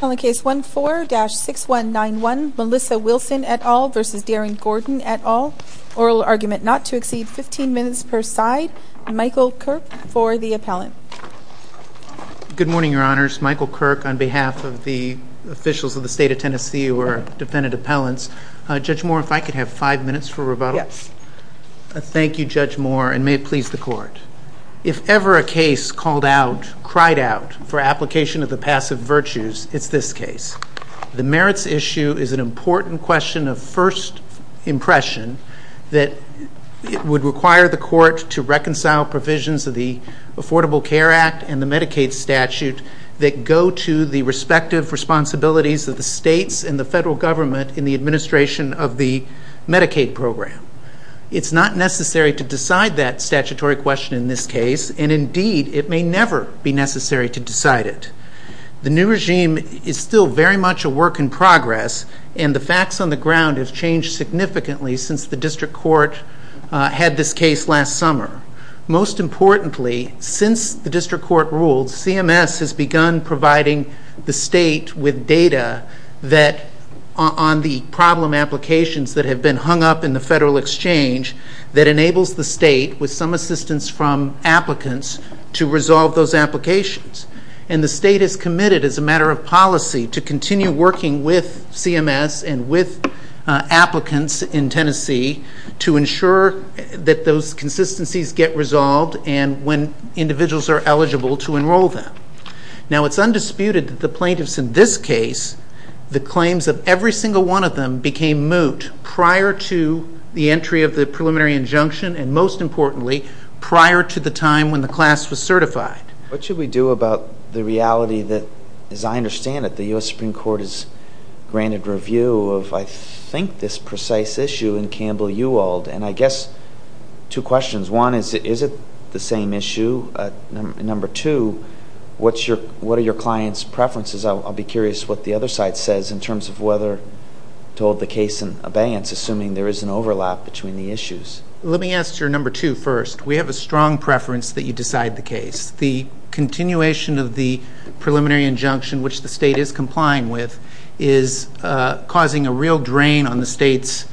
On the case 1-4-6191, Melissa Wilson et al. v. Darin Gordon et al. Oral argument not to exceed 15 minutes per side. Michael Kirk for the appellant. Good morning, Your Honors. Michael Kirk on behalf of the officials of the State of Tennessee who are defendant appellants. Judge Moore, if I could have five minutes for rebuttal? Yes. Thank you, Judge Moore, and may it please the Court. If ever a case called out, cried out, for application of the passive virtues, it's this case. The merits issue is an important question of first impression that would require the Court to reconcile provisions of the Affordable Care Act and the Medicaid statute that go to the respective responsibilities of the states and the federal government in the administration of the Medicaid program. It's not necessary to decide that statutory question in this case, and indeed, it may never be necessary to decide it. The new regime is still very much a work in progress, and the facts on the ground have changed significantly since the district court had this case last summer. Most importantly, since the district court ruled, CMS has begun providing the state with data on the problem applications that have been hung up in the federal exchange that enables the state, with some assistance from applicants, to resolve those applications. And the state is committed, as a matter of policy, to continue working with CMS and with applicants in Tennessee to ensure that those consistencies get resolved and when individuals are eligible to enroll them. Now, it's undisputed that the plaintiffs in this case, the claims of every single one of them, became moot prior to the entry of the preliminary injunction and, most importantly, prior to the time when the class was certified. What should we do about the reality that, as I understand it, the U.S. Supreme Court has granted review of, I think, this precise issue in Campbell-Uwald, and I guess two questions. One is, is it the same issue? Number two, what are your clients' preferences? I'll be curious what the other side says in terms of whether to hold the case in abeyance, assuming there is an overlap between the issues. Let me ask your number two first. We have a strong preference that you decide the case. The continuation of the preliminary injunction, which the state is complying with, is causing a real drain on the state's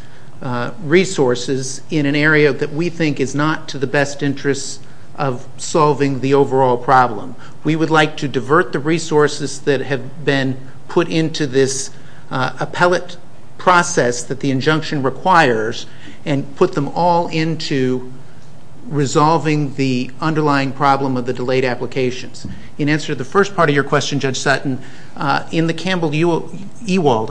resources in an area that we think is not to the best interest of solving the overall problem. We would like to divert the resources that have been put into this appellate process that the injunction requires and put them all into resolving the underlying problem of the delayed applications. In answer to the first part of your question, Judge Sutton, in the Campbell-Uwald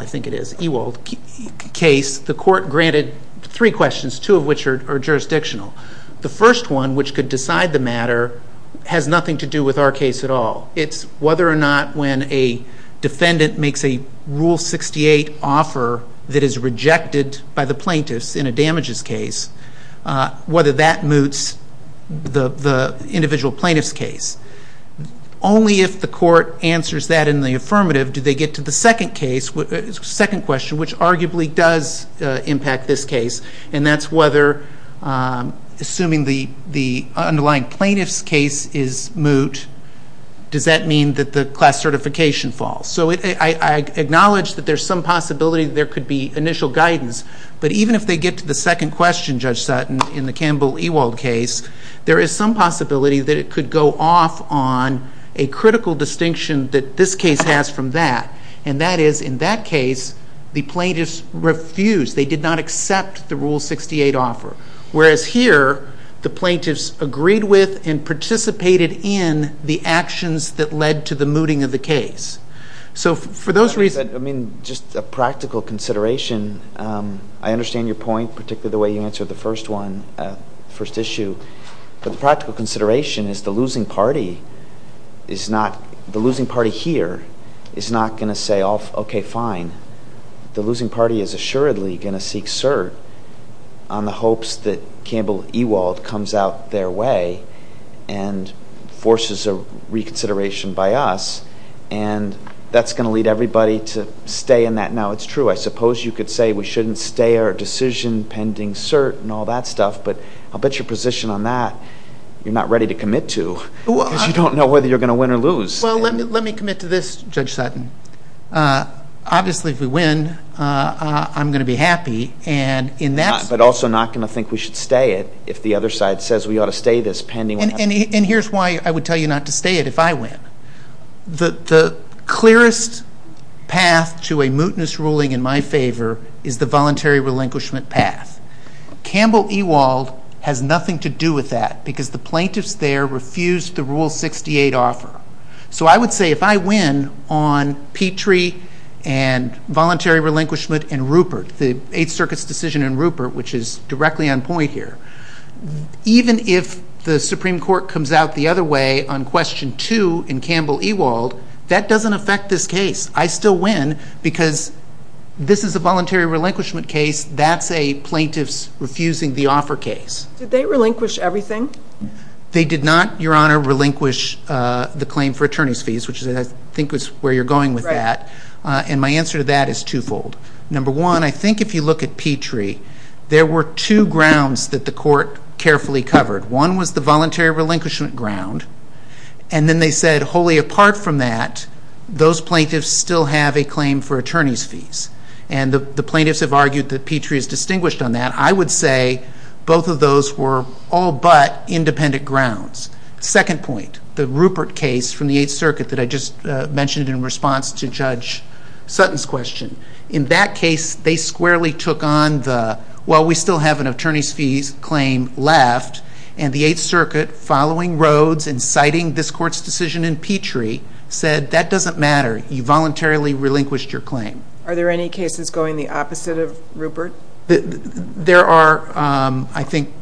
case, the court granted three questions, two of which are jurisdictional. The first one, which could decide the matter, has nothing to do with our case at all. It's whether or not when a defendant makes a Rule 68 offer that is rejected by the plaintiffs in a damages case, whether that moots the individual plaintiff's case. Only if the court answers that in the affirmative do they get to the second question, which arguably does impact this case, and that's whether, assuming the underlying plaintiff's case is moot, does that mean that the class certification falls? I acknowledge that there is some possibility that there could be initial guidance, but even if they get to the second question, Judge Sutton, in the Campbell-Uwald case, there is some possibility that it could go off on a critical distinction that this case has from that, and that is, in that case, the plaintiffs refused. They did not accept the Rule 68 offer, whereas here the plaintiffs agreed with and participated in the actions that led to the mooting of the case. I mean, just a practical consideration. I understand your point, particularly the way you answered the first one, the first issue. But the practical consideration is the losing party here is not going to say, okay, fine. The losing party is assuredly going to seek cert on the hopes that Campbell-Uwald comes out their way and forces a reconsideration by us, and that's going to lead everybody to stay in that. Now, it's true. I suppose you could say we shouldn't stay our decision pending cert and all that stuff, but I'll bet your position on that you're not ready to commit to because you don't know whether you're going to win or lose. Well, let me commit to this, Judge Sutton. Obviously, if we win, I'm going to be happy. But also not going to think we should stay it if the other side says we ought to stay this pending what happens. And here's why I would tell you not to stay it if I win. The clearest path to a mootness ruling in my favor is the voluntary relinquishment path. Campbell-Uwald has nothing to do with that because the plaintiffs there refused the Rule 68 offer. So I would say if I win on Petrie and voluntary relinquishment and Rupert, the Eighth Circuit's decision in Rupert, which is directly on point here, even if the Supreme Court comes out the other way on Question 2 in Campbell-Uwald, that doesn't affect this case. I still win because this is a voluntary relinquishment case. That's a plaintiff's refusing the offer case. Did they relinquish everything? They did not, Your Honor, relinquish the claim for attorney's fees, which I think is where you're going with that. And my answer to that is twofold. Number one, I think if you look at Petrie, there were two grounds that the court carefully covered. One was the voluntary relinquishment ground. And then they said wholly apart from that, those plaintiffs still have a claim for attorney's fees. And the plaintiffs have argued that Petrie is distinguished on that. And I would say both of those were all but independent grounds. Second point, the Rupert case from the Eighth Circuit that I just mentioned in response to Judge Sutton's question. In that case, they squarely took on the, well, we still have an attorney's fees claim left. And the Eighth Circuit, following Rhodes and citing this court's decision in Petrie, said that doesn't matter. You voluntarily relinquished your claim. Are there any cases going the opposite of Rupert? There are, I think,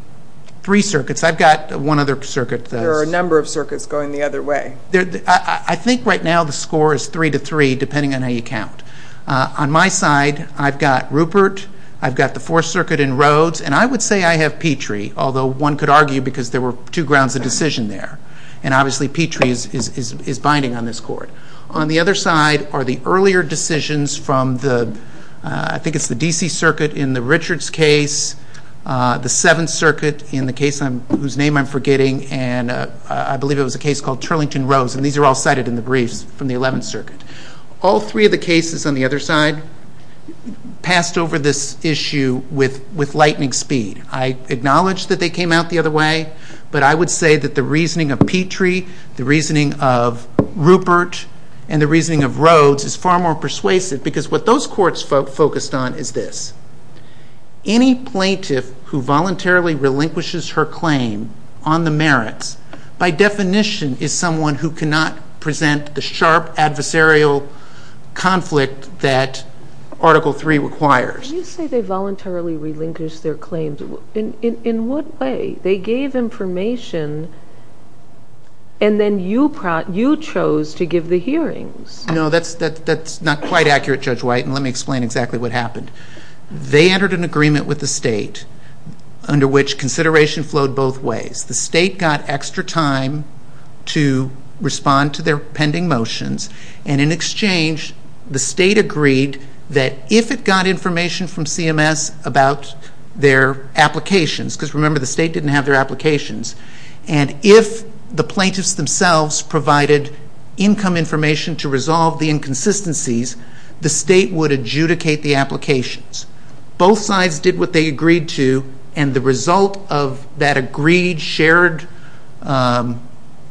three circuits. I've got one other circuit. There are a number of circuits going the other way. I think right now the score is three to three, depending on how you count. On my side, I've got Rupert. I've got the Fourth Circuit and Rhodes. And I would say I have Petrie, although one could argue because there were two grounds of decision there. And obviously Petrie is binding on this court. On the other side are the earlier decisions from the, I think it's the D.C. Circuit in the Richards case, the Seventh Circuit in the case whose name I'm forgetting, and I believe it was a case called Turlington-Rhodes. And these are all cited in the briefs from the Eleventh Circuit. All three of the cases on the other side passed over this issue with lightning speed. I acknowledge that they came out the other way, but I would say that the reasoning of Petrie, the reasoning of Rupert, and the reasoning of Rhodes is far more persuasive because what those courts focused on is this. Any plaintiff who voluntarily relinquishes her claim on the merits, by definition is someone who cannot present the sharp adversarial conflict that Article III requires. But you say they voluntarily relinquished their claims. In what way? They gave information and then you chose to give the hearings. No, that's not quite accurate, Judge White, and let me explain exactly what happened. They entered an agreement with the state under which consideration flowed both ways. The state got extra time to respond to their pending motions, and in exchange the state agreed that if it got information from CMS about their applications, because remember the state didn't have their applications, and if the plaintiffs themselves provided income information to resolve the inconsistencies, the state would adjudicate the applications. Both sides did what they agreed to, and the result of that agreed shared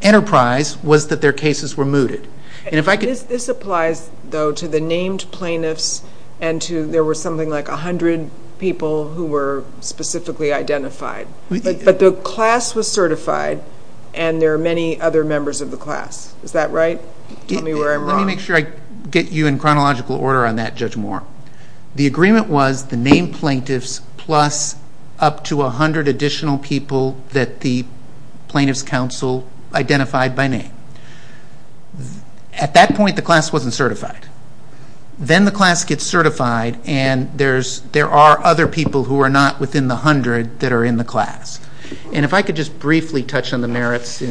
enterprise was that their cases were mooted. This applies, though, to the named plaintiffs and to there were something like 100 people who were specifically identified, but the class was certified and there are many other members of the class. Is that right? Tell me where I'm wrong. Let me make sure I get you in chronological order on that, Judge Moore. The agreement was the named plaintiffs plus up to 100 additional people that the Plaintiffs' Council identified by name. At that point the class wasn't certified. Then the class gets certified, and there are other people who are not within the 100 that are in the class. And if I could just briefly touch on the merits.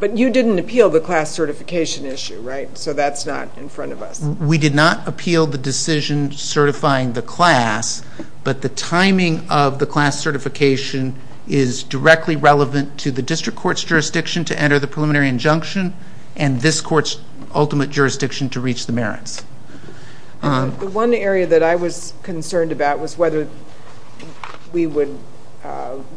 But you didn't appeal the class certification issue, right? So that's not in front of us. We did not appeal the decision certifying the class, but the timing of the class certification is directly relevant to the district court's jurisdiction to enter the preliminary injunction and this court's ultimate jurisdiction to reach the merits. The one area that I was concerned about was whether we would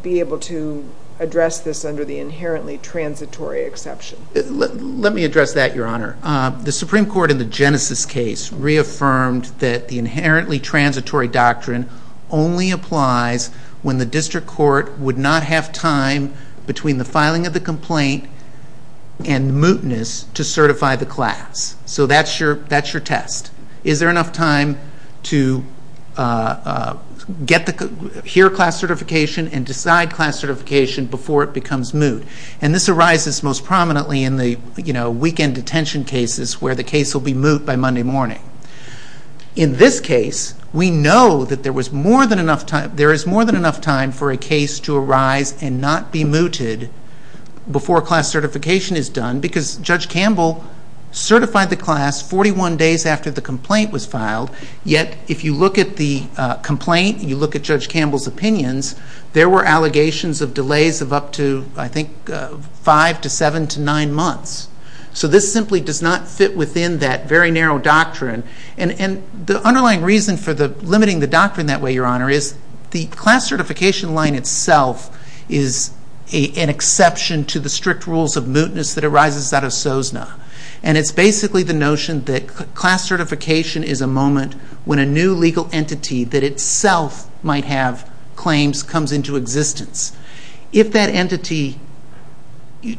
be able to address this under the inherently transitory exception. Let me address that, Your Honor. The Supreme Court, in the Genesis case, reaffirmed that the inherently transitory doctrine only applies when the district court would not have time between the filing of the complaint and mootness to certify the class. So that's your test. Is there enough time to hear class certification and decide class certification before it becomes moot? And this arises most prominently in the weekend detention cases where the case will be moot by Monday morning. In this case, we know that there is more than enough time for a case to arise and not be mooted before class certification is done because Judge Campbell certified the class 41 days after the complaint was filed, yet if you look at the complaint and you look at Judge Campbell's opinions, there were allegations of delays of up to, I think, five to seven to nine months. So this simply does not fit within that very narrow doctrine. And the underlying reason for limiting the doctrine that way, Your Honor, is the class certification line itself is an exception to the strict rules of mootness that arises out of SOSNA. And it's basically the notion that class certification is a moment when a new legal entity that itself might have claims comes into existence. If that entity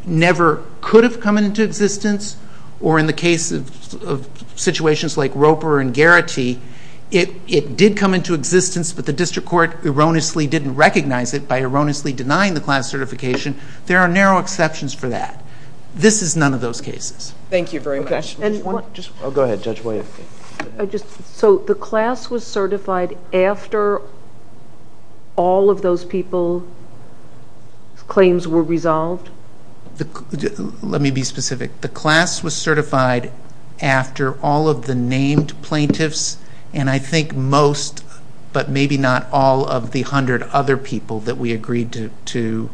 never could have come into existence or in the case of situations like Roper and Garrity, it did come into existence but the district court erroneously didn't recognize it by erroneously denying the class certification, there are narrow exceptions for that. This is none of those cases. Thank you very much. Go ahead, Judge William. So the class was certified after all of those people's claims were resolved? Let me be specific. The class was certified after all of the named plaintiffs and I think most but maybe not all of the hundred other people that we agreed to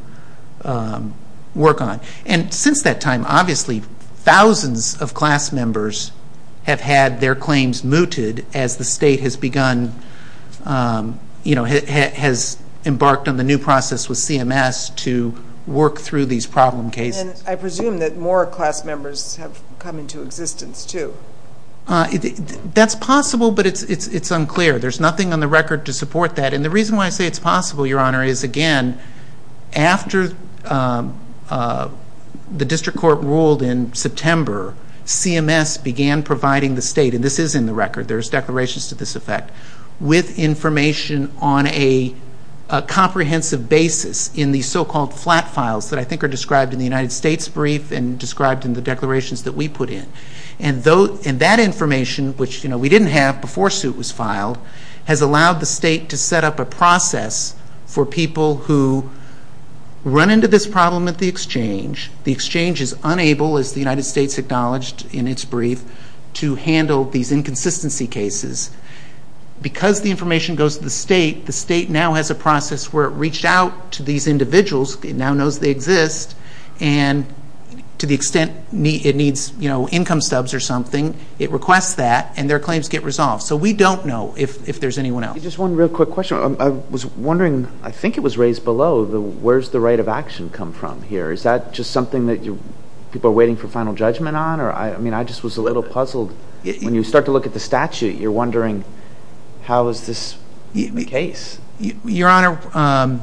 work on. And since that time, obviously, thousands of class members have had their claims mooted as the state has embarked on the new process with CMS to work through these problem cases. And I presume that more class members have come into existence too. That's possible but it's unclear. There's nothing on the record to support that. And the reason why I say it's possible, Your Honor, is, again, after the district court ruled in September, CMS began providing the state, and this is in the record, there's declarations to this effect, with information on a comprehensive basis in the so-called flat files that I think are described in the United States brief and described in the declarations that we put in. And that information, which we didn't have before suit was filed, has allowed the state to set up a process for people who run into this problem at the exchange. The exchange is unable, as the United States acknowledged in its brief, to handle these inconsistency cases. Because the information goes to the state, the state now has a process where it reached out to these individuals, it now knows they exist, and to the extent it needs income stubs or something, it requests that and their claims get resolved. So we don't know if there's anyone else. Just one real quick question. I was wondering, I think it was raised below, where's the right of action come from here? Is that just something that people are waiting for final judgment on? I mean, I just was a little puzzled. When you start to look at the statute, you're wondering how is this the case? Your Honor,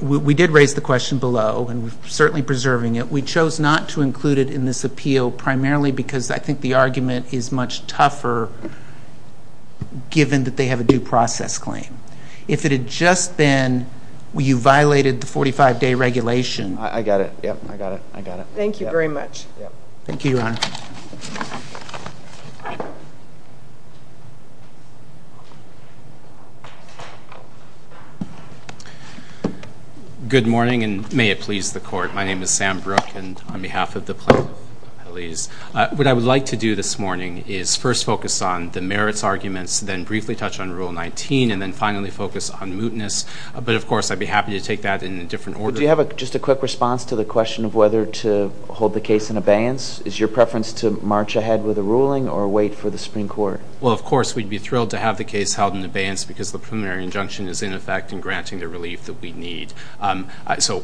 we did raise the question below, and we're certainly preserving it. We chose not to include it in this appeal primarily because I think the argument is much tougher given that they have a due process claim. If it had just been you violated the 45-day regulation. I got it. Thank you very much. Thank you, Your Honor. Good morning, and may it please the Court. My name is Sam Brooke, and on behalf of the plaintiff, what I would like to do this morning is first focus on the merits arguments, then briefly touch on Rule 19, and then finally focus on mootness. But, of course, I'd be happy to take that in a different order. Do you have just a quick response to the question of whether to hold the case in abeyance? Is your preference to march ahead with a ruling or wait for the Supreme Court? Well, of course, we'd be thrilled to have the case held in abeyance because the preliminary injunction is in effect and granting the relief that we need. So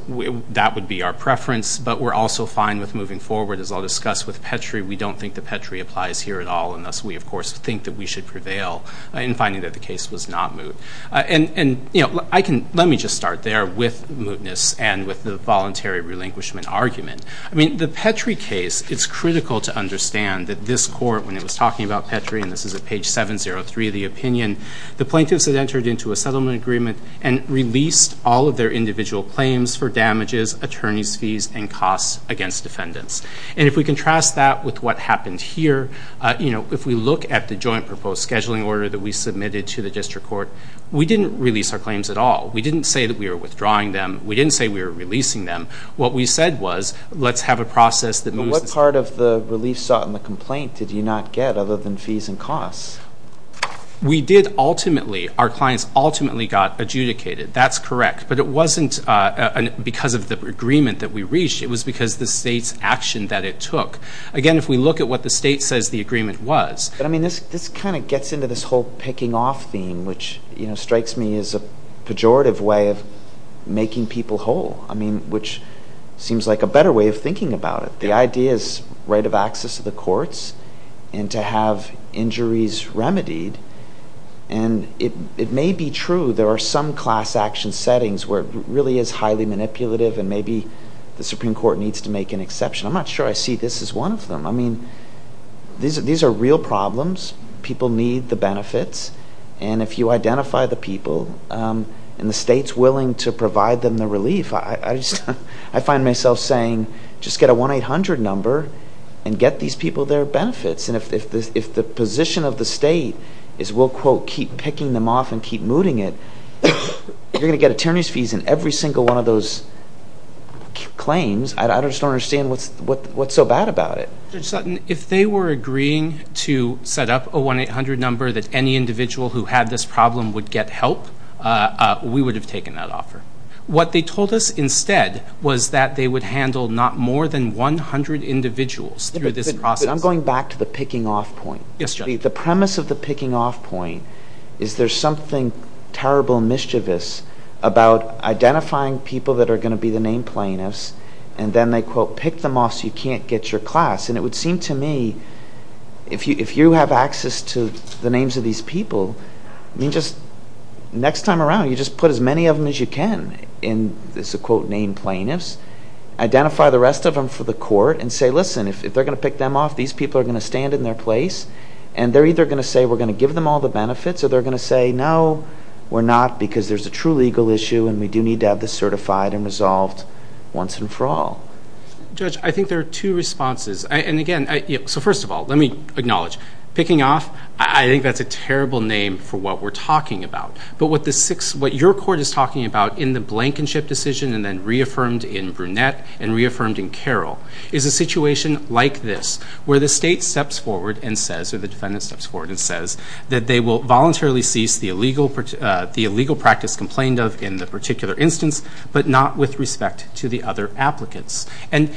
that would be our preference, but we're also fine with moving forward. As I'll discuss with Petrie, we don't think that Petrie applies here at all, and thus we, of course, think that we should prevail in finding that the case was not moot. And, you know, let me just start there with mootness and with the voluntary relinquishment argument. I mean, the Petrie case, it's critical to understand that this Court, when it was talking about Petrie, and this is at page 703 of the opinion, the plaintiffs had entered into a settlement agreement and released all of their individual claims for damages, attorneys' fees, and costs against defendants. And if we contrast that with what happened here, you know, if we look at the joint proposed scheduling order that we submitted to the district court, we didn't release our claims at all. We didn't say that we were withdrawing them. We didn't say we were releasing them. What we said was, let's have a process that moves this case. But what part of the relief sought and the complaint did you not get other than fees and costs? We did ultimately, our clients ultimately got adjudicated. That's correct. But it wasn't because of the agreement that we reached. It was because the state's action that it took. Again, if we look at what the state says the agreement was. But, I mean, this kind of gets into this whole picking off thing, which, you know, strikes me as a pejorative way of making people whole. I mean, which seems like a better way of thinking about it. The idea is right of access to the courts and to have injuries remedied. And it may be true there are some class action settings where it really is highly manipulative and maybe the Supreme Court needs to make an exception. I'm not sure I see this as one of them. I mean, these are real problems. People need the benefits. And if you identify the people and the state's willing to provide them the relief, I find myself saying just get a 1-800 number and get these people their benefits. And if the position of the state is we'll, quote, keep picking them off and keep mooting it, you're going to get attorneys fees in every single one of those claims. I just don't understand what's so bad about it. Judge Sutton, if they were agreeing to set up a 1-800 number that any individual who had this problem would get help, we would have taken that offer. What they told us instead was that they would handle not more than 100 individuals through this process. I'm going back to the picking off point. Yes, Judge. The premise of the picking off point is there's something terrible and mischievous about identifying people that are going to be the name plaintiffs, and then they, quote, pick them off so you can't get your class. And it would seem to me if you have access to the names of these people, next time around you just put as many of them as you can in this, quote, name plaintiffs, identify the rest of them for the court, and say, listen, if they're going to pick them off, these people are going to stand in their place, and they're either going to say we're going to give them all the benefits, or they're going to say, no, we're not because there's a true legal issue and we do need to have this certified and resolved once and for all. Judge, I think there are two responses. And, again, so first of all, let me acknowledge. Picking off, I think that's a terrible name for what we're talking about. But what your court is talking about in the Blankenship decision and then reaffirmed in Brunette and reaffirmed in Carroll is a situation like this, where the state steps forward and says, or the defendant steps forward and says, that they will voluntarily cease the illegal practice complained of in the particular instance, but not with respect to the other applicants. And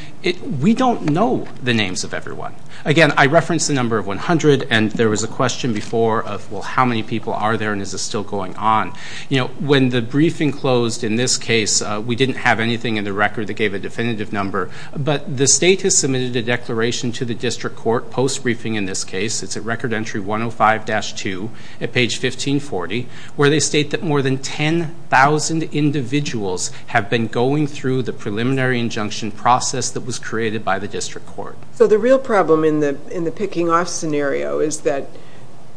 we don't know the names of everyone. Again, I referenced the number of 100, and there was a question before of, well, how many people are there and is this still going on? You know, when the briefing closed in this case, we didn't have anything in the record that gave a definitive number. But the state has submitted a declaration to the district court post-briefing in this case. It's at Record Entry 105-2 at page 1540, where they state that more than 10,000 individuals have been going through the preliminary injunction process that was created by the district court. So the real problem in the picking-off scenario is that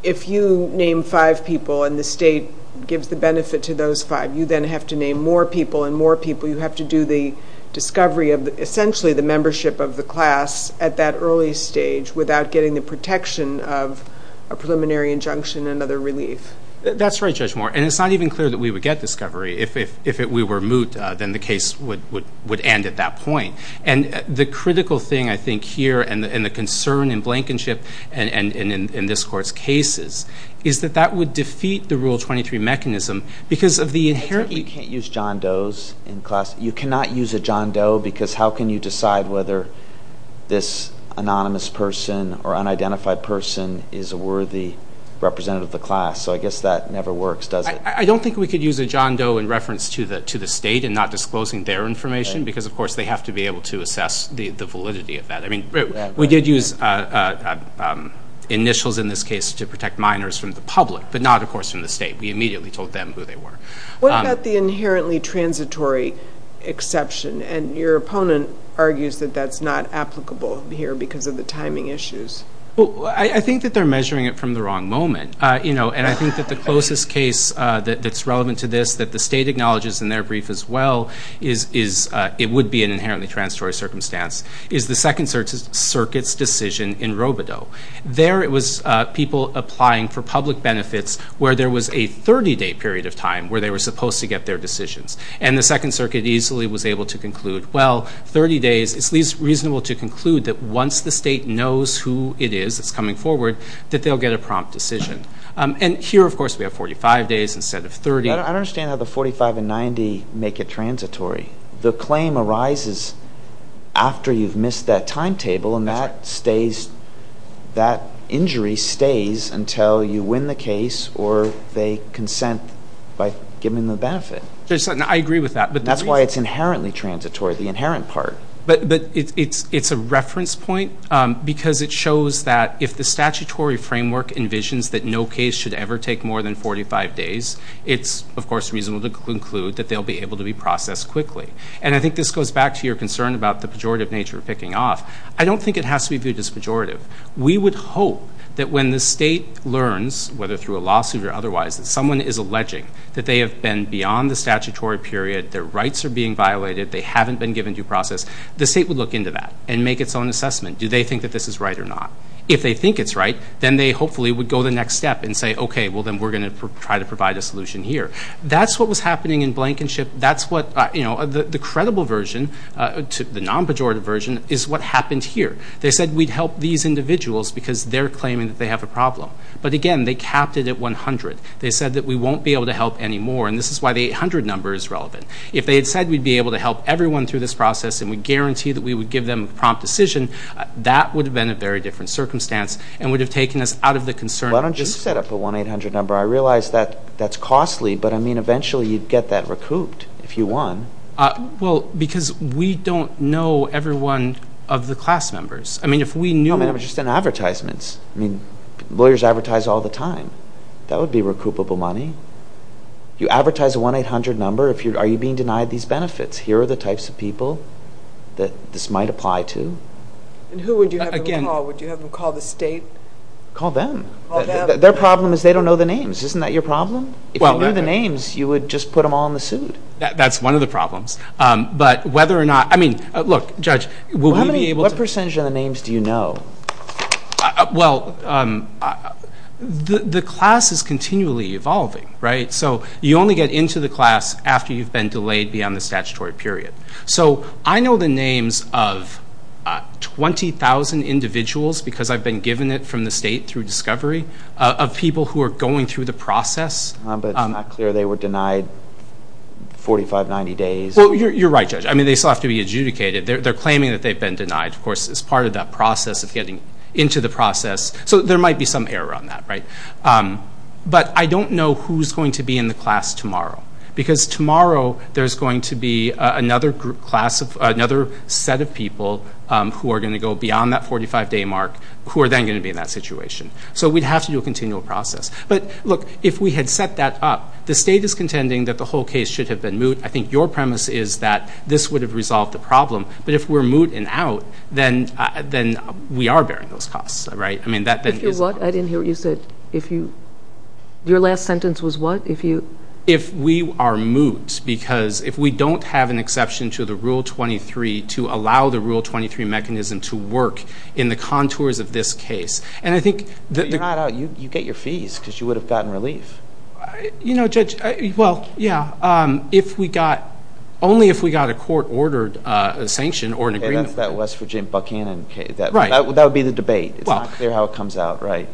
if you name five people and the state gives the benefit to those five, you then have to name more people and more people. You have to do the discovery of essentially the membership of the class at that early stage without getting the protection of a preliminary injunction and other relief. That's right, Judge Moore, and it's not even clear that we would get discovery. If we were moot, then the case would end at that point. And the critical thing I think here and the concern in Blankenship and in this court's cases is that that would defeat the Rule 23 mechanism because of the inherent... You can't use John Doe's in class. You cannot use a John Doe because how can you decide whether this anonymous person or unidentified person is a worthy representative of the class? So I guess that never works, does it? I don't think we could use a John Doe in reference to the state and not disclosing their information because, of course, they have to be able to assess the validity of that. We did use initials in this case to protect minors from the public, but not, of course, from the state. We immediately told them who they were. What about the inherently transitory exception? And your opponent argues that that's not applicable here because of the timing issues. I think that they're measuring it from the wrong moment. And I think that the closest case that's relevant to this, that the state acknowledges in their brief as well, it would be an inherently transitory circumstance, is the Second Circuit's decision in Robodeau. There it was people applying for public benefits where there was a 30-day period of time where they were supposed to get their decisions. And the Second Circuit easily was able to conclude, well, 30 days, it's at least reasonable to conclude that once the state knows who it is that's coming forward, that they'll get a prompt decision. And here, of course, we have 45 days instead of 30. I don't understand how the 45 and 90 make it transitory. The claim arises after you've missed that timetable, and that injury stays until you win the case or they consent by giving them the benefit. I agree with that. That's why it's inherently transitory, the inherent part. But it's a reference point because it shows that if the statutory framework envisions that no case should ever take more than 45 days, it's, of course, reasonable to conclude that they'll be able to be processed quickly. And I think this goes back to your concern about the pejorative nature of picking off. I don't think it has to be viewed as pejorative. We would hope that when the state learns, whether through a lawsuit or otherwise, that someone is alleging that they have been beyond the statutory period, their rights are being violated, they haven't been given due process, the state would look into that and make its own assessment. Do they think that this is right or not? If they think it's right, then they hopefully would go the next step and say, okay, well, then we're going to try to provide a solution here. That's what was happening in Blankenship. The credible version, the non-pejorative version, is what happened here. They said we'd help these individuals because they're claiming that they have a problem. But, again, they capped it at 100. They said that we won't be able to help anymore. And this is why the 800 number is relevant. If they had said we'd be able to help everyone through this process and we guarantee that we would give them a prompt decision, that would have been a very different circumstance and would have taken us out of the concern. Why don't you set up a 1-800 number? I realize that that's costly, but, I mean, eventually you'd get that recouped if you won. Well, because we don't know every one of the class members. I mean, if we knew them. I mean, I was just in advertisements. I mean, lawyers advertise all the time. That would be recoupable money. You advertise a 1-800 number. Are you being denied these benefits? Here are the types of people that this might apply to. And who would you have them call? Would you have them call the state? Call them. Their problem is they don't know the names. Isn't that your problem? If you knew the names, you would just put them all in the suit. That's one of the problems. But whether or not, I mean, look, Judge, will we be able to What percentage of the names do you know? Well, the class is continually evolving, right? So you only get into the class after you've been delayed beyond the statutory period. So I know the names of 20,000 individuals, because I've been given it from the state through discovery, of people who are going through the process. But it's not clear they were denied 45, 90 days. Well, you're right, Judge. I mean, they still have to be adjudicated. They're claiming that they've been denied, of course, as part of that process of getting into the process. So there might be some error on that, right? But I don't know who's going to be in the class tomorrow, because tomorrow there's going to be another set of people who are going to go beyond that 45-day mark who are then going to be in that situation. So we'd have to do a continual process. But, look, if we had set that up, the state is contending that the whole case should have been moot. I think your premise is that this would have resolved the problem. But if we're moot and out, then we are bearing those costs, right? If you're what? I didn't hear what you said. Your last sentence was what? If we are moot, because if we don't have an exception to the Rule 23 to allow the Rule 23 mechanism to work in the contours of this case. You're not out. You get your fees, because you would have gotten relief. You know, Judge, well, yeah, only if we got a court-ordered sanction or an agreement. Okay, that's that West Virginia Buckhannon case. Right. That would be the debate. It's not clear how it comes out, right?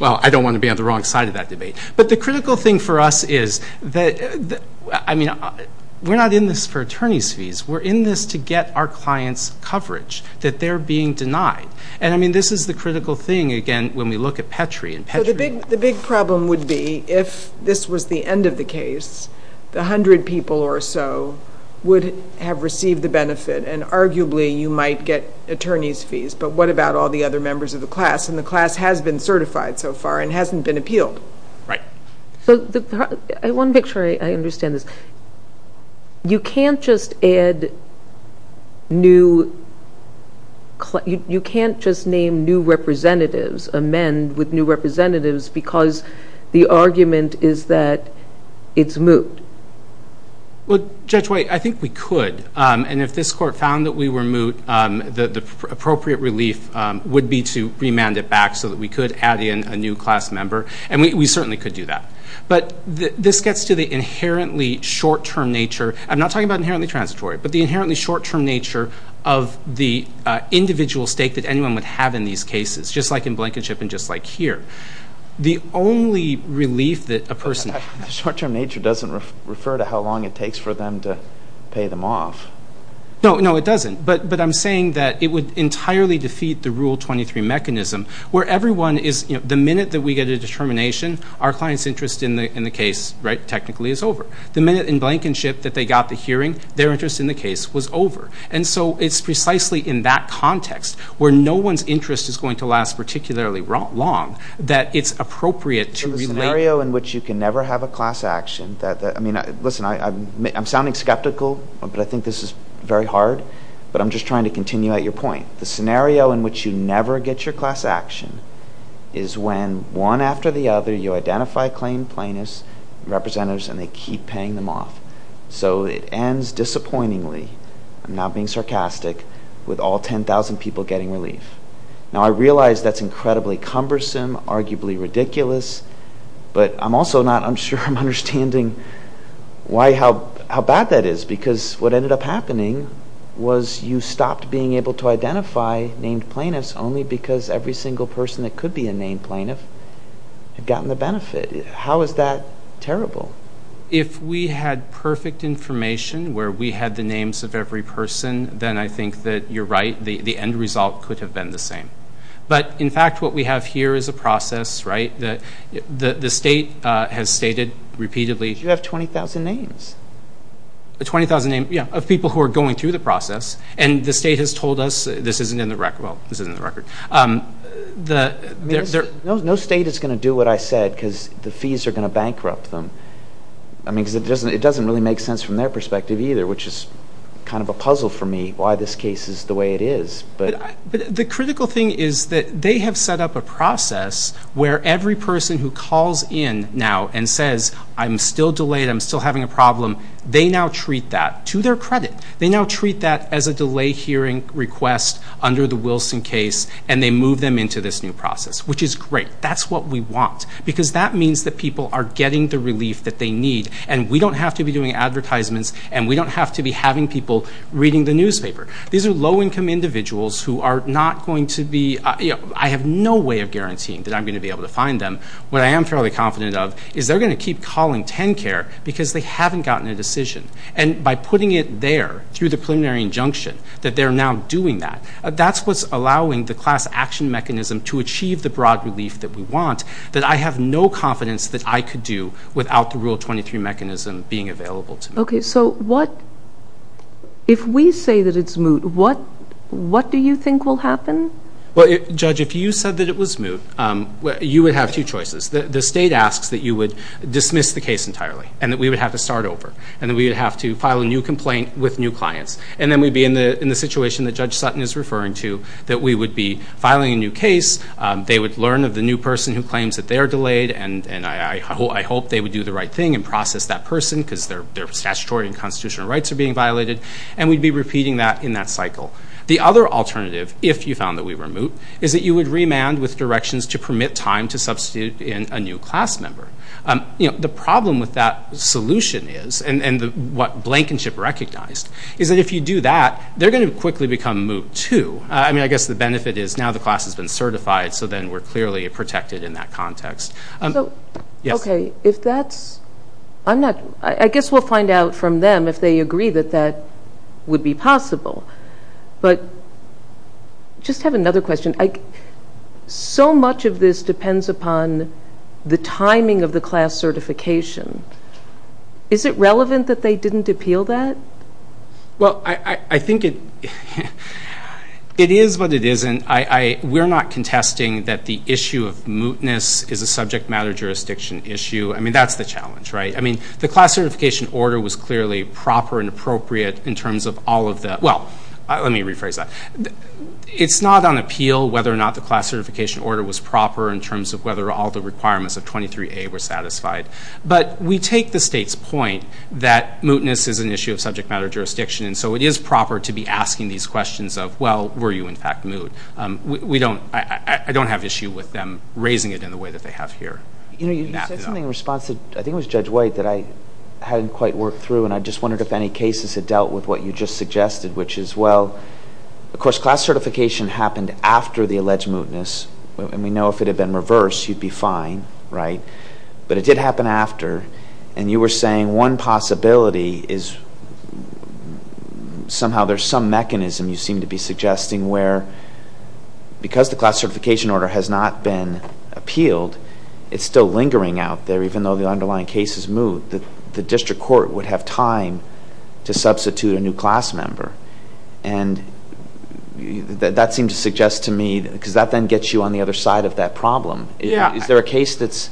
Well, I don't want to be on the wrong side of that debate. But the critical thing for us is that, I mean, we're not in this for attorneys' fees. We're in this to get our clients' coverage, that they're being denied. And, I mean, this is the critical thing, again, when we look at Petri. The big problem would be, if this was the end of the case, the hundred people or so would have received the benefit, and arguably you might get attorney's fees. But what about all the other members of the class? And the class has been certified so far and hasn't been appealed. Right. I want to make sure I understand this. You can't just add new... because the argument is that it's moot. Well, Judge White, I think we could. And if this court found that we were moot, the appropriate relief would be to remand it back so that we could add in a new class member. And we certainly could do that. But this gets to the inherently short-term nature. I'm not talking about inherently transitory, but the inherently short-term nature of the individual stake that anyone would have in these cases, just like in Blankenship and just like here. The only relief that a person... Short-term nature doesn't refer to how long it takes for them to pay them off. No, no, it doesn't. But I'm saying that it would entirely defeat the Rule 23 mechanism, where everyone is... the minute that we get a determination, our client's interest in the case, right, technically is over. The minute in Blankenship that they got the hearing, their interest in the case was over. And so it's precisely in that context, where no one's interest is going to last particularly long, that it's appropriate to... So the scenario in which you can never have a class action... I mean, listen, I'm sounding skeptical, but I think this is very hard. But I'm just trying to continue at your point. The scenario in which you never get your class action is when, one after the other, you identify claimed plaintiffs, representatives, and they keep paying them off. So it ends disappointingly. I'm not being sarcastic with all 10,000 people getting relief. Now, I realize that's incredibly cumbersome, arguably ridiculous, but I'm also not... I'm sure I'm understanding why... how bad that is. Because what ended up happening was you stopped being able to identify named plaintiffs only because every single person that could be a named plaintiff had gotten the benefit. How is that terrible? If we had perfect information where we had the names of every person, then I think that you're right. The end result could have been the same. But, in fact, what we have here is a process, right? The state has stated repeatedly... You have 20,000 names. 20,000 names, yeah, of people who are going through the process. And the state has told us this isn't in the record. Well, this isn't in the record. No state is going to do what I said because the fees are going to bankrupt them. I mean, because it doesn't really make sense from their perspective either, which is kind of a puzzle for me why this case is the way it is. But the critical thing is that they have set up a process where every person who calls in now and says, I'm still delayed, I'm still having a problem, they now treat that to their credit. They now treat that as a delay hearing request under the Wilson case and they move them into this new process, which is great. That's what we want because that means that people are getting the relief that they need and we don't have to be doing advertisements and we don't have to be having people reading the newspaper. These are low-income individuals who are not going to be... I have no way of guaranteeing that I'm going to be able to find them. What I am fairly confident of is they're going to keep calling TennCare because they haven't gotten a decision. And by putting it there through the preliminary injunction, that they're now doing that, that's what's allowing the class action mechanism to achieve the broad relief that we want that I have no confidence that I could do without the Rule 23 mechanism being available to me. Okay, so what... If we say that it's moot, what do you think will happen? Well, Judge, if you said that it was moot, you would have two choices. The state asks that you would dismiss the case entirely and that we would have to start over and that we would have to file a new complaint with new clients. And then we'd be in the situation that Judge Sutton is referring to, that we would be filing a new case. They would learn of the new person who claims that they're delayed and I hope they would do the right thing and process that person because their statutory and constitutional rights are being violated. And we'd be repeating that in that cycle. The other alternative, if you found that we were moot, is that you would remand with directions to permit time to substitute in a new class member. The problem with that solution is, and what Blankenship recognized, is that if you do that, they're going to quickly become moot, too. I mean, I guess the benefit is now the class has been certified so then we're clearly protected in that context. So, okay, if that's... I'm not... I guess we'll find out from them if they agree that that would be possible. But I just have another question. So much of this depends upon the timing of the class certification. Is it relevant that they didn't appeal that? Well, I think it is but it isn't. We're not contesting that the issue of mootness is a subject matter jurisdiction issue. I mean, that's the challenge, right? I mean, the class certification order was clearly proper and appropriate in terms of all of the... well, let me rephrase that. It's not on appeal whether or not the class certification order was proper in terms of whether all the requirements of 23A were satisfied. But we take the state's point that mootness is an issue of subject matter jurisdiction and so it is proper to be asking these questions of, well, were you in fact moot? We don't... I don't have issue with them raising it in the way that they have here. You said something in response to... I think it was Judge White that I hadn't quite worked through and I just wondered if any cases had dealt with what you just suggested, which is, well, of course, class certification happened after the alleged mootness and we know if it had been reversed, you'd be fine, right? But it did happen after and you were saying one possibility is somehow there's some mechanism you seem to be suggesting where because the class certification order has not been appealed, it's still lingering out there even though the underlying case is moot. The district court would have time to substitute a new class member and that seemed to suggest to me because that then gets you on the other side of that problem. Is there a case that's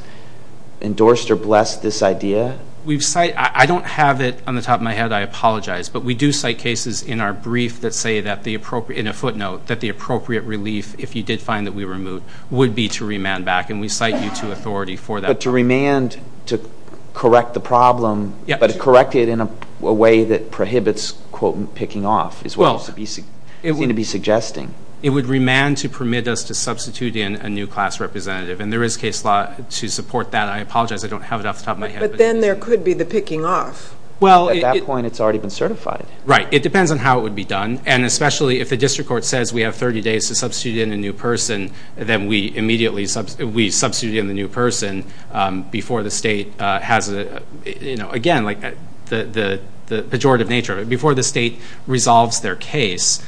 endorsed or blessed this idea? We've cited... I don't have it on the top of my head. I apologize, but we do cite cases in our brief that say that the appropriate... in a footnote that the appropriate relief, if you did find that we were moot, would be to remand back and we cite you to authority for that. But to remand to correct the problem, but correct it in a way that prohibits, quote, picking off is what you seem to be suggesting. It would remand to permit us to substitute in a new class representative and there is case law to support that. I apologize, I don't have it off the top of my head. But then there could be the picking off. At that point, it's already been certified. Right. It depends on how it would be done and especially if the district court says we have 30 days to substitute in a new person, then we immediately... we substitute in the new person before the state has a... again, the pejorative nature of it, before the state resolves their case,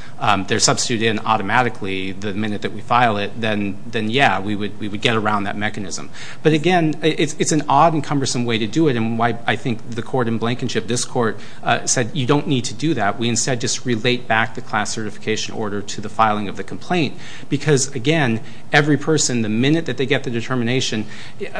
they're substituted in automatically the minute that we file it, then yeah, we would get around that mechanism. But again, it's an odd and cumbersome way to do it and why I think the court in Blankenship, this court, said you don't need to do that. We instead just relate back the class certification order to the filing of the complaint because, again, every person, the minute that they get the determination,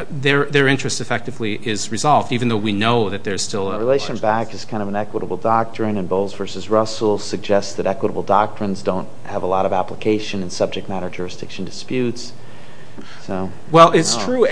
their interest effectively is resolved even though we know that there's still... The relation back is kind of an equitable doctrine and Bowles v. Russell suggests that equitable doctrines don't have a lot of application in subject matter jurisdiction disputes. Well, it's true.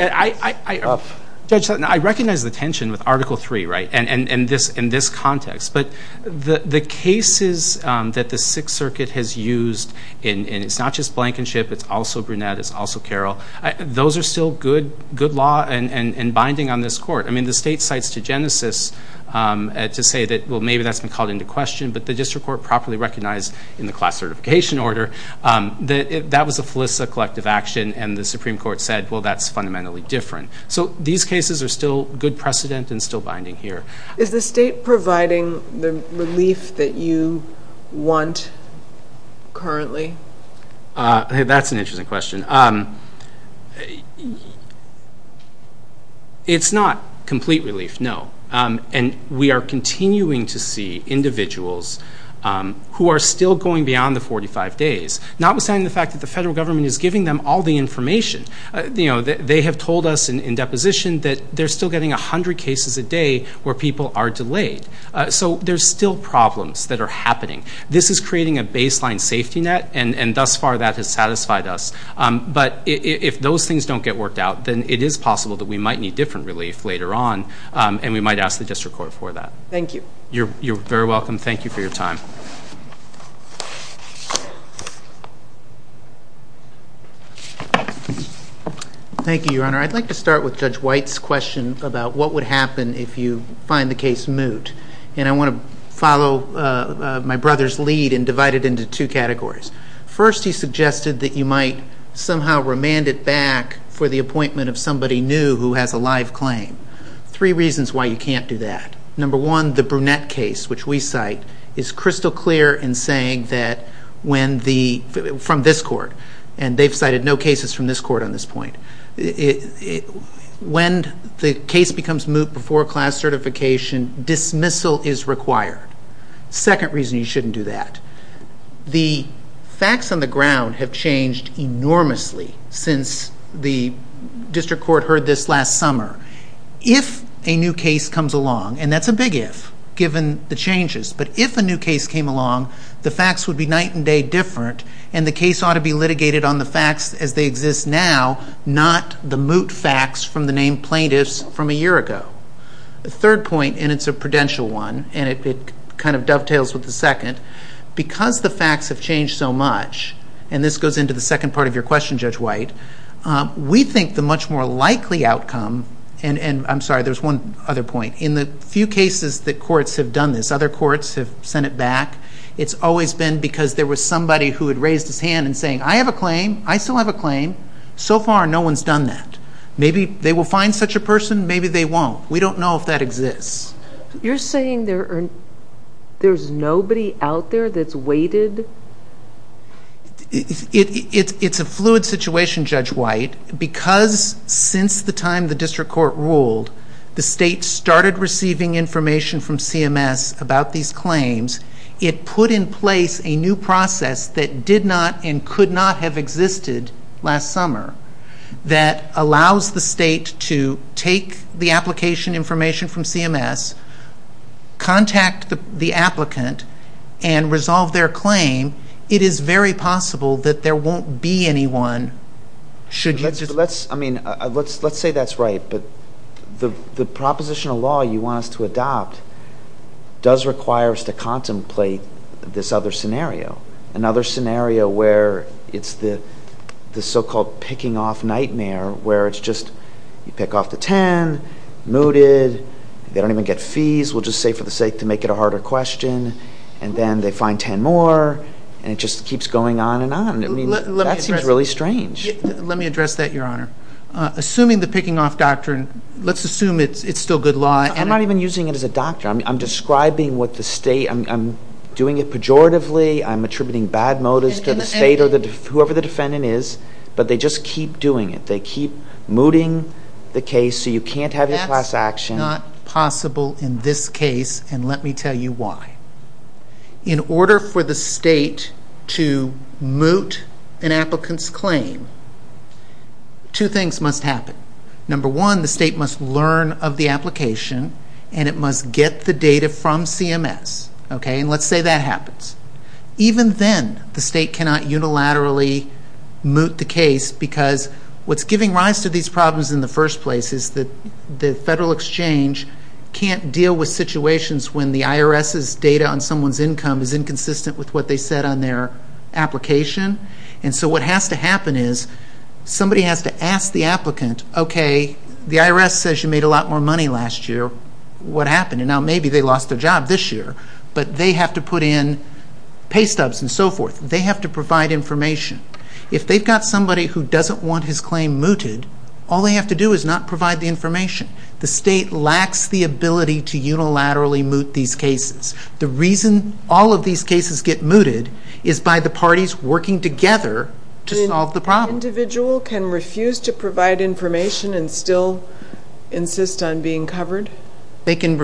Judge Sutton, I recognize the tension with Article 3, right, and this context. But the cases that the Sixth Circuit has used, and it's not just Blankenship, it's also Brunette, it's also Carroll, those are still good law and binding on this court. I mean, the state cites to Genesis to say that, well, maybe that's been called into question, but the district court properly recognized in the class certification order that that was a felicitative collective action and the Supreme Court said, well, that's fundamentally different. So these cases are still good precedent and still binding here. Is the state providing the relief that you want currently? That's an interesting question. It's not complete relief, no. And we are continuing to see individuals who are still going beyond the 45 days, notwithstanding the fact that the federal government is giving them all the information. They have told us in deposition that they're still getting 100 cases a day where people are delayed. So there's still problems that are happening. This is creating a baseline safety net, and thus far that has satisfied us. But if those things don't get worked out, then it is possible that we might need different relief later on, and we might ask the district court for that. Thank you. You're very welcome. Thank you for your time. Thank you, Your Honor. I'd like to start with Judge White's question about what would happen if you find the case moot. And I want to follow my brother's lead and divide it into two categories. First, he suggested that you might somehow remand it back for the appointment of somebody new who has a live claim. Three reasons why you can't do that. Number one, the Brunette case, which we cite, is crystal clear in saying that when the, from this court, and they've cited no cases from this court on this point, when the case becomes moot before class certification, dismissal is required. Second reason you shouldn't do that. The facts on the ground have changed enormously since the district court heard this last summer. If a new case comes along, and that's a big if, given the changes, but if a new case came along, the facts would be night and day different, and the case ought to be litigated on the facts as they exist now, not the moot facts from the named plaintiffs from a year ago. The third point, and it's a prudential one, and it kind of dovetails with the second, because the facts have changed so much, and this goes into the second part of your question, Judge White, we think the much more likely outcome, and I'm sorry, there's one other point. In the few cases that courts have done this, other courts have sent it back, it's always been because there was somebody who had raised his hand and saying, I have a claim, I still have a claim, so far no one's done that. Maybe they will find such a person, maybe they won't. We don't know if that exists. You're saying there's nobody out there that's waited? It's a fluid situation, Judge White, because since the time the district court ruled, the state started receiving information from CMS about these claims. It put in place a new process that did not and could not have existed last summer that allows the state to take the application information from CMS, contact the applicant, and resolve their claim. It is very possible that there won't be anyone. Let's say that's right, but the proposition of law you want us to adopt does require us to contemplate this other scenario, another scenario where it's the so-called picking off nightmare, where it's just you pick off the 10, mooted, they don't even get fees, we'll just say for the sake to make it a harder question, and then they find 10 more, and it just keeps going on and on. That seems really strange. Let me address that, Your Honor. Assuming the picking off doctrine, let's assume it's still good law. I'm not even using it as a doctrine. I'm describing what the state, I'm doing it pejoratively, I'm attributing bad motives to the state or whoever the defendant is, but they just keep doing it. They keep mooting the case so you can't have your class action. That's not possible in this case, and let me tell you why. In order for the state to moot an applicant's claim, two things must happen. Number one, the state must learn of the application, and it must get the data from CMS. Let's say that happens. Even then, the state cannot unilaterally moot the case because what's giving rise to these problems in the first place is that the Federal Exchange can't deal with situations when the IRS's data on someone's income is inconsistent with what they said on their application, and so what has to happen is somebody has to ask the applicant, okay, the IRS says you made a lot more money last year, what happened? Now, maybe they lost their job this year, but they have to put in pay stubs and so forth. They have to provide information. If they've got somebody who doesn't want his claim mooted, all they have to do is not provide the information. The state lacks the ability to unilaterally moot these cases. The reason all of these cases get mooted is by the parties working together to solve the problem. An individual can refuse to provide information and still insist on being covered? They can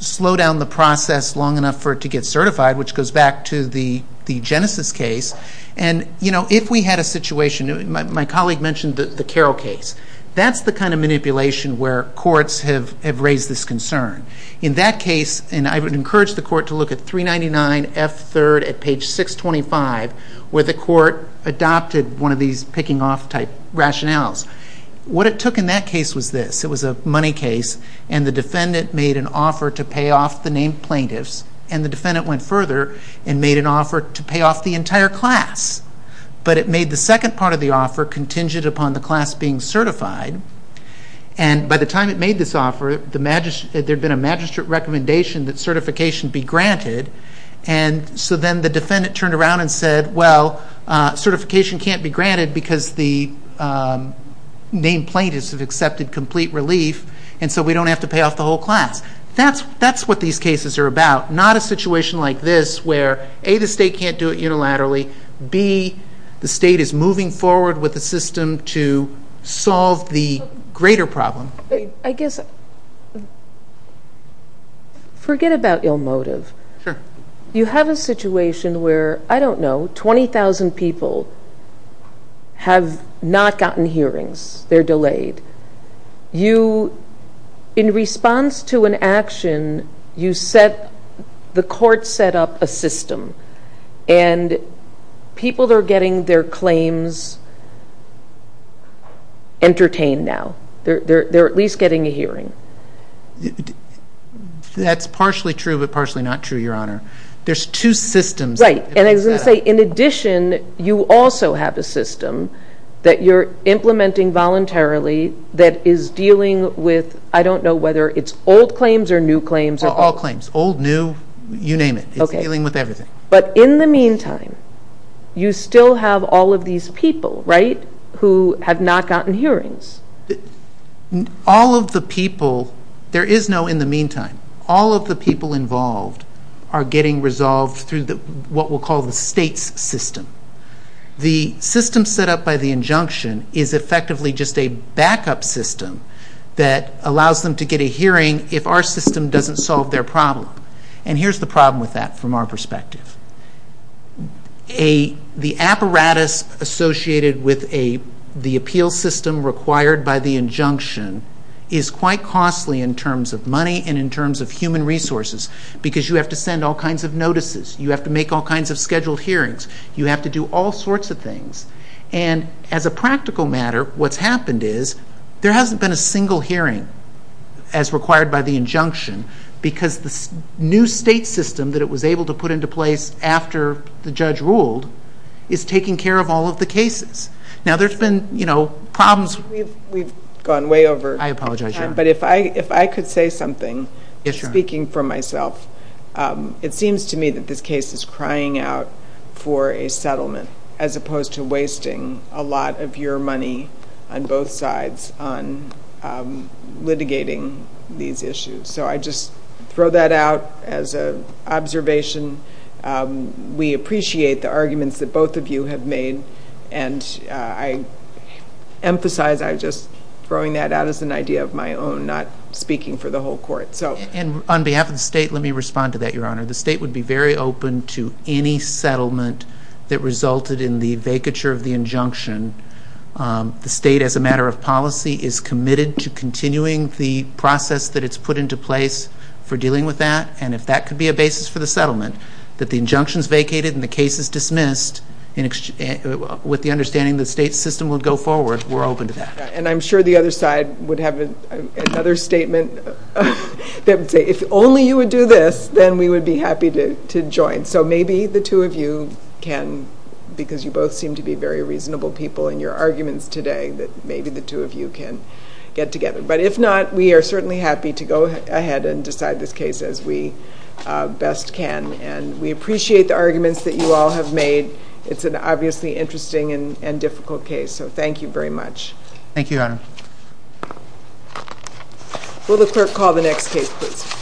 slow down the process long enough for it to get certified, which goes back to the Genesis case, and if we had a situation, my colleague mentioned the Carroll case. That's the kind of manipulation where courts have raised this concern. In that case, and I would encourage the court to look at 399F3 at page 625, where the court adopted one of these picking-off type rationales. What it took in that case was this. It was a money case, and the defendant made an offer to pay off the named plaintiffs, and the defendant went further and made an offer to pay off the entire class. But it made the second part of the offer contingent upon the class being certified. By the time it made this offer, there had been a magistrate recommendation that certification be granted. So then the defendant turned around and said, well, certification can't be granted because the named plaintiffs have accepted complete relief, and so we don't have to pay off the whole class. That's what these cases are about, not a situation like this where A, the state can't do it unilaterally, B, the state is moving forward with the system to solve the greater problem. I guess forget about ill motive. You have a situation where, I don't know, 20,000 people have not gotten hearings. They're delayed. In response to an action, the court set up a system, and people are getting their claims entertained now. They're at least getting a hearing. That's partially true but partially not true, Your Honor. There's two systems. Right, and I was going to say, in addition, you also have a system that you're implementing voluntarily that is dealing with, I don't know whether it's old claims or new claims. All claims, old, new, you name it. Okay. It's dealing with everything. But in the meantime, you still have all of these people, right, who have not gotten hearings. All of the people, there is no in the meantime. All of the people involved are getting resolved through what we'll call the state's system. The system set up by the injunction is effectively just a backup system that allows them to get a hearing if our system doesn't solve their problem. And here's the problem with that from our perspective. The apparatus associated with the appeal system required by the injunction is quite costly in terms of money and in terms of human resources because you have to send all kinds of notices. You have to make all kinds of scheduled hearings. You have to do all sorts of things. And as a practical matter, what's happened is there hasn't been a single hearing as required by the injunction because the new state system that it was able to put into place after the judge ruled is taking care of all of the cases. Now, there's been problems... We've gone way over... I apologize, Your Honor. But if I could say something... Yes, Your Honor. Speaking for myself, it seems to me that this case is crying out for a settlement as opposed to wasting a lot of your money on both sides on litigating these issues. So I just throw that out as an observation. We appreciate the arguments that both of you have made. And I emphasize I'm just throwing that out as an idea of my own, not speaking for the whole Court. And on behalf of the state, let me respond to that, Your Honor. The state would be very open to any settlement that resulted in the vacature of the injunction. The state, as a matter of policy, is committed to continuing the process that it's put into place for dealing with that. And if that could be a basis for the settlement, that the injunction's vacated and the case is dismissed with the understanding the state system would go forward, we're open to that. And I'm sure the other side would have another statement that would say, If only you would do this, then we would be happy to join. So maybe the two of you can, because you both seem to be very reasonable people in your arguments today, that maybe the two of you can get together. But if not, we are certainly happy to go ahead and decide this case as we best can. And we appreciate the arguments that you all have made. It's an obviously interesting and difficult case. So thank you very much. Thank you, Your Honor. Will the clerk call the next case, please?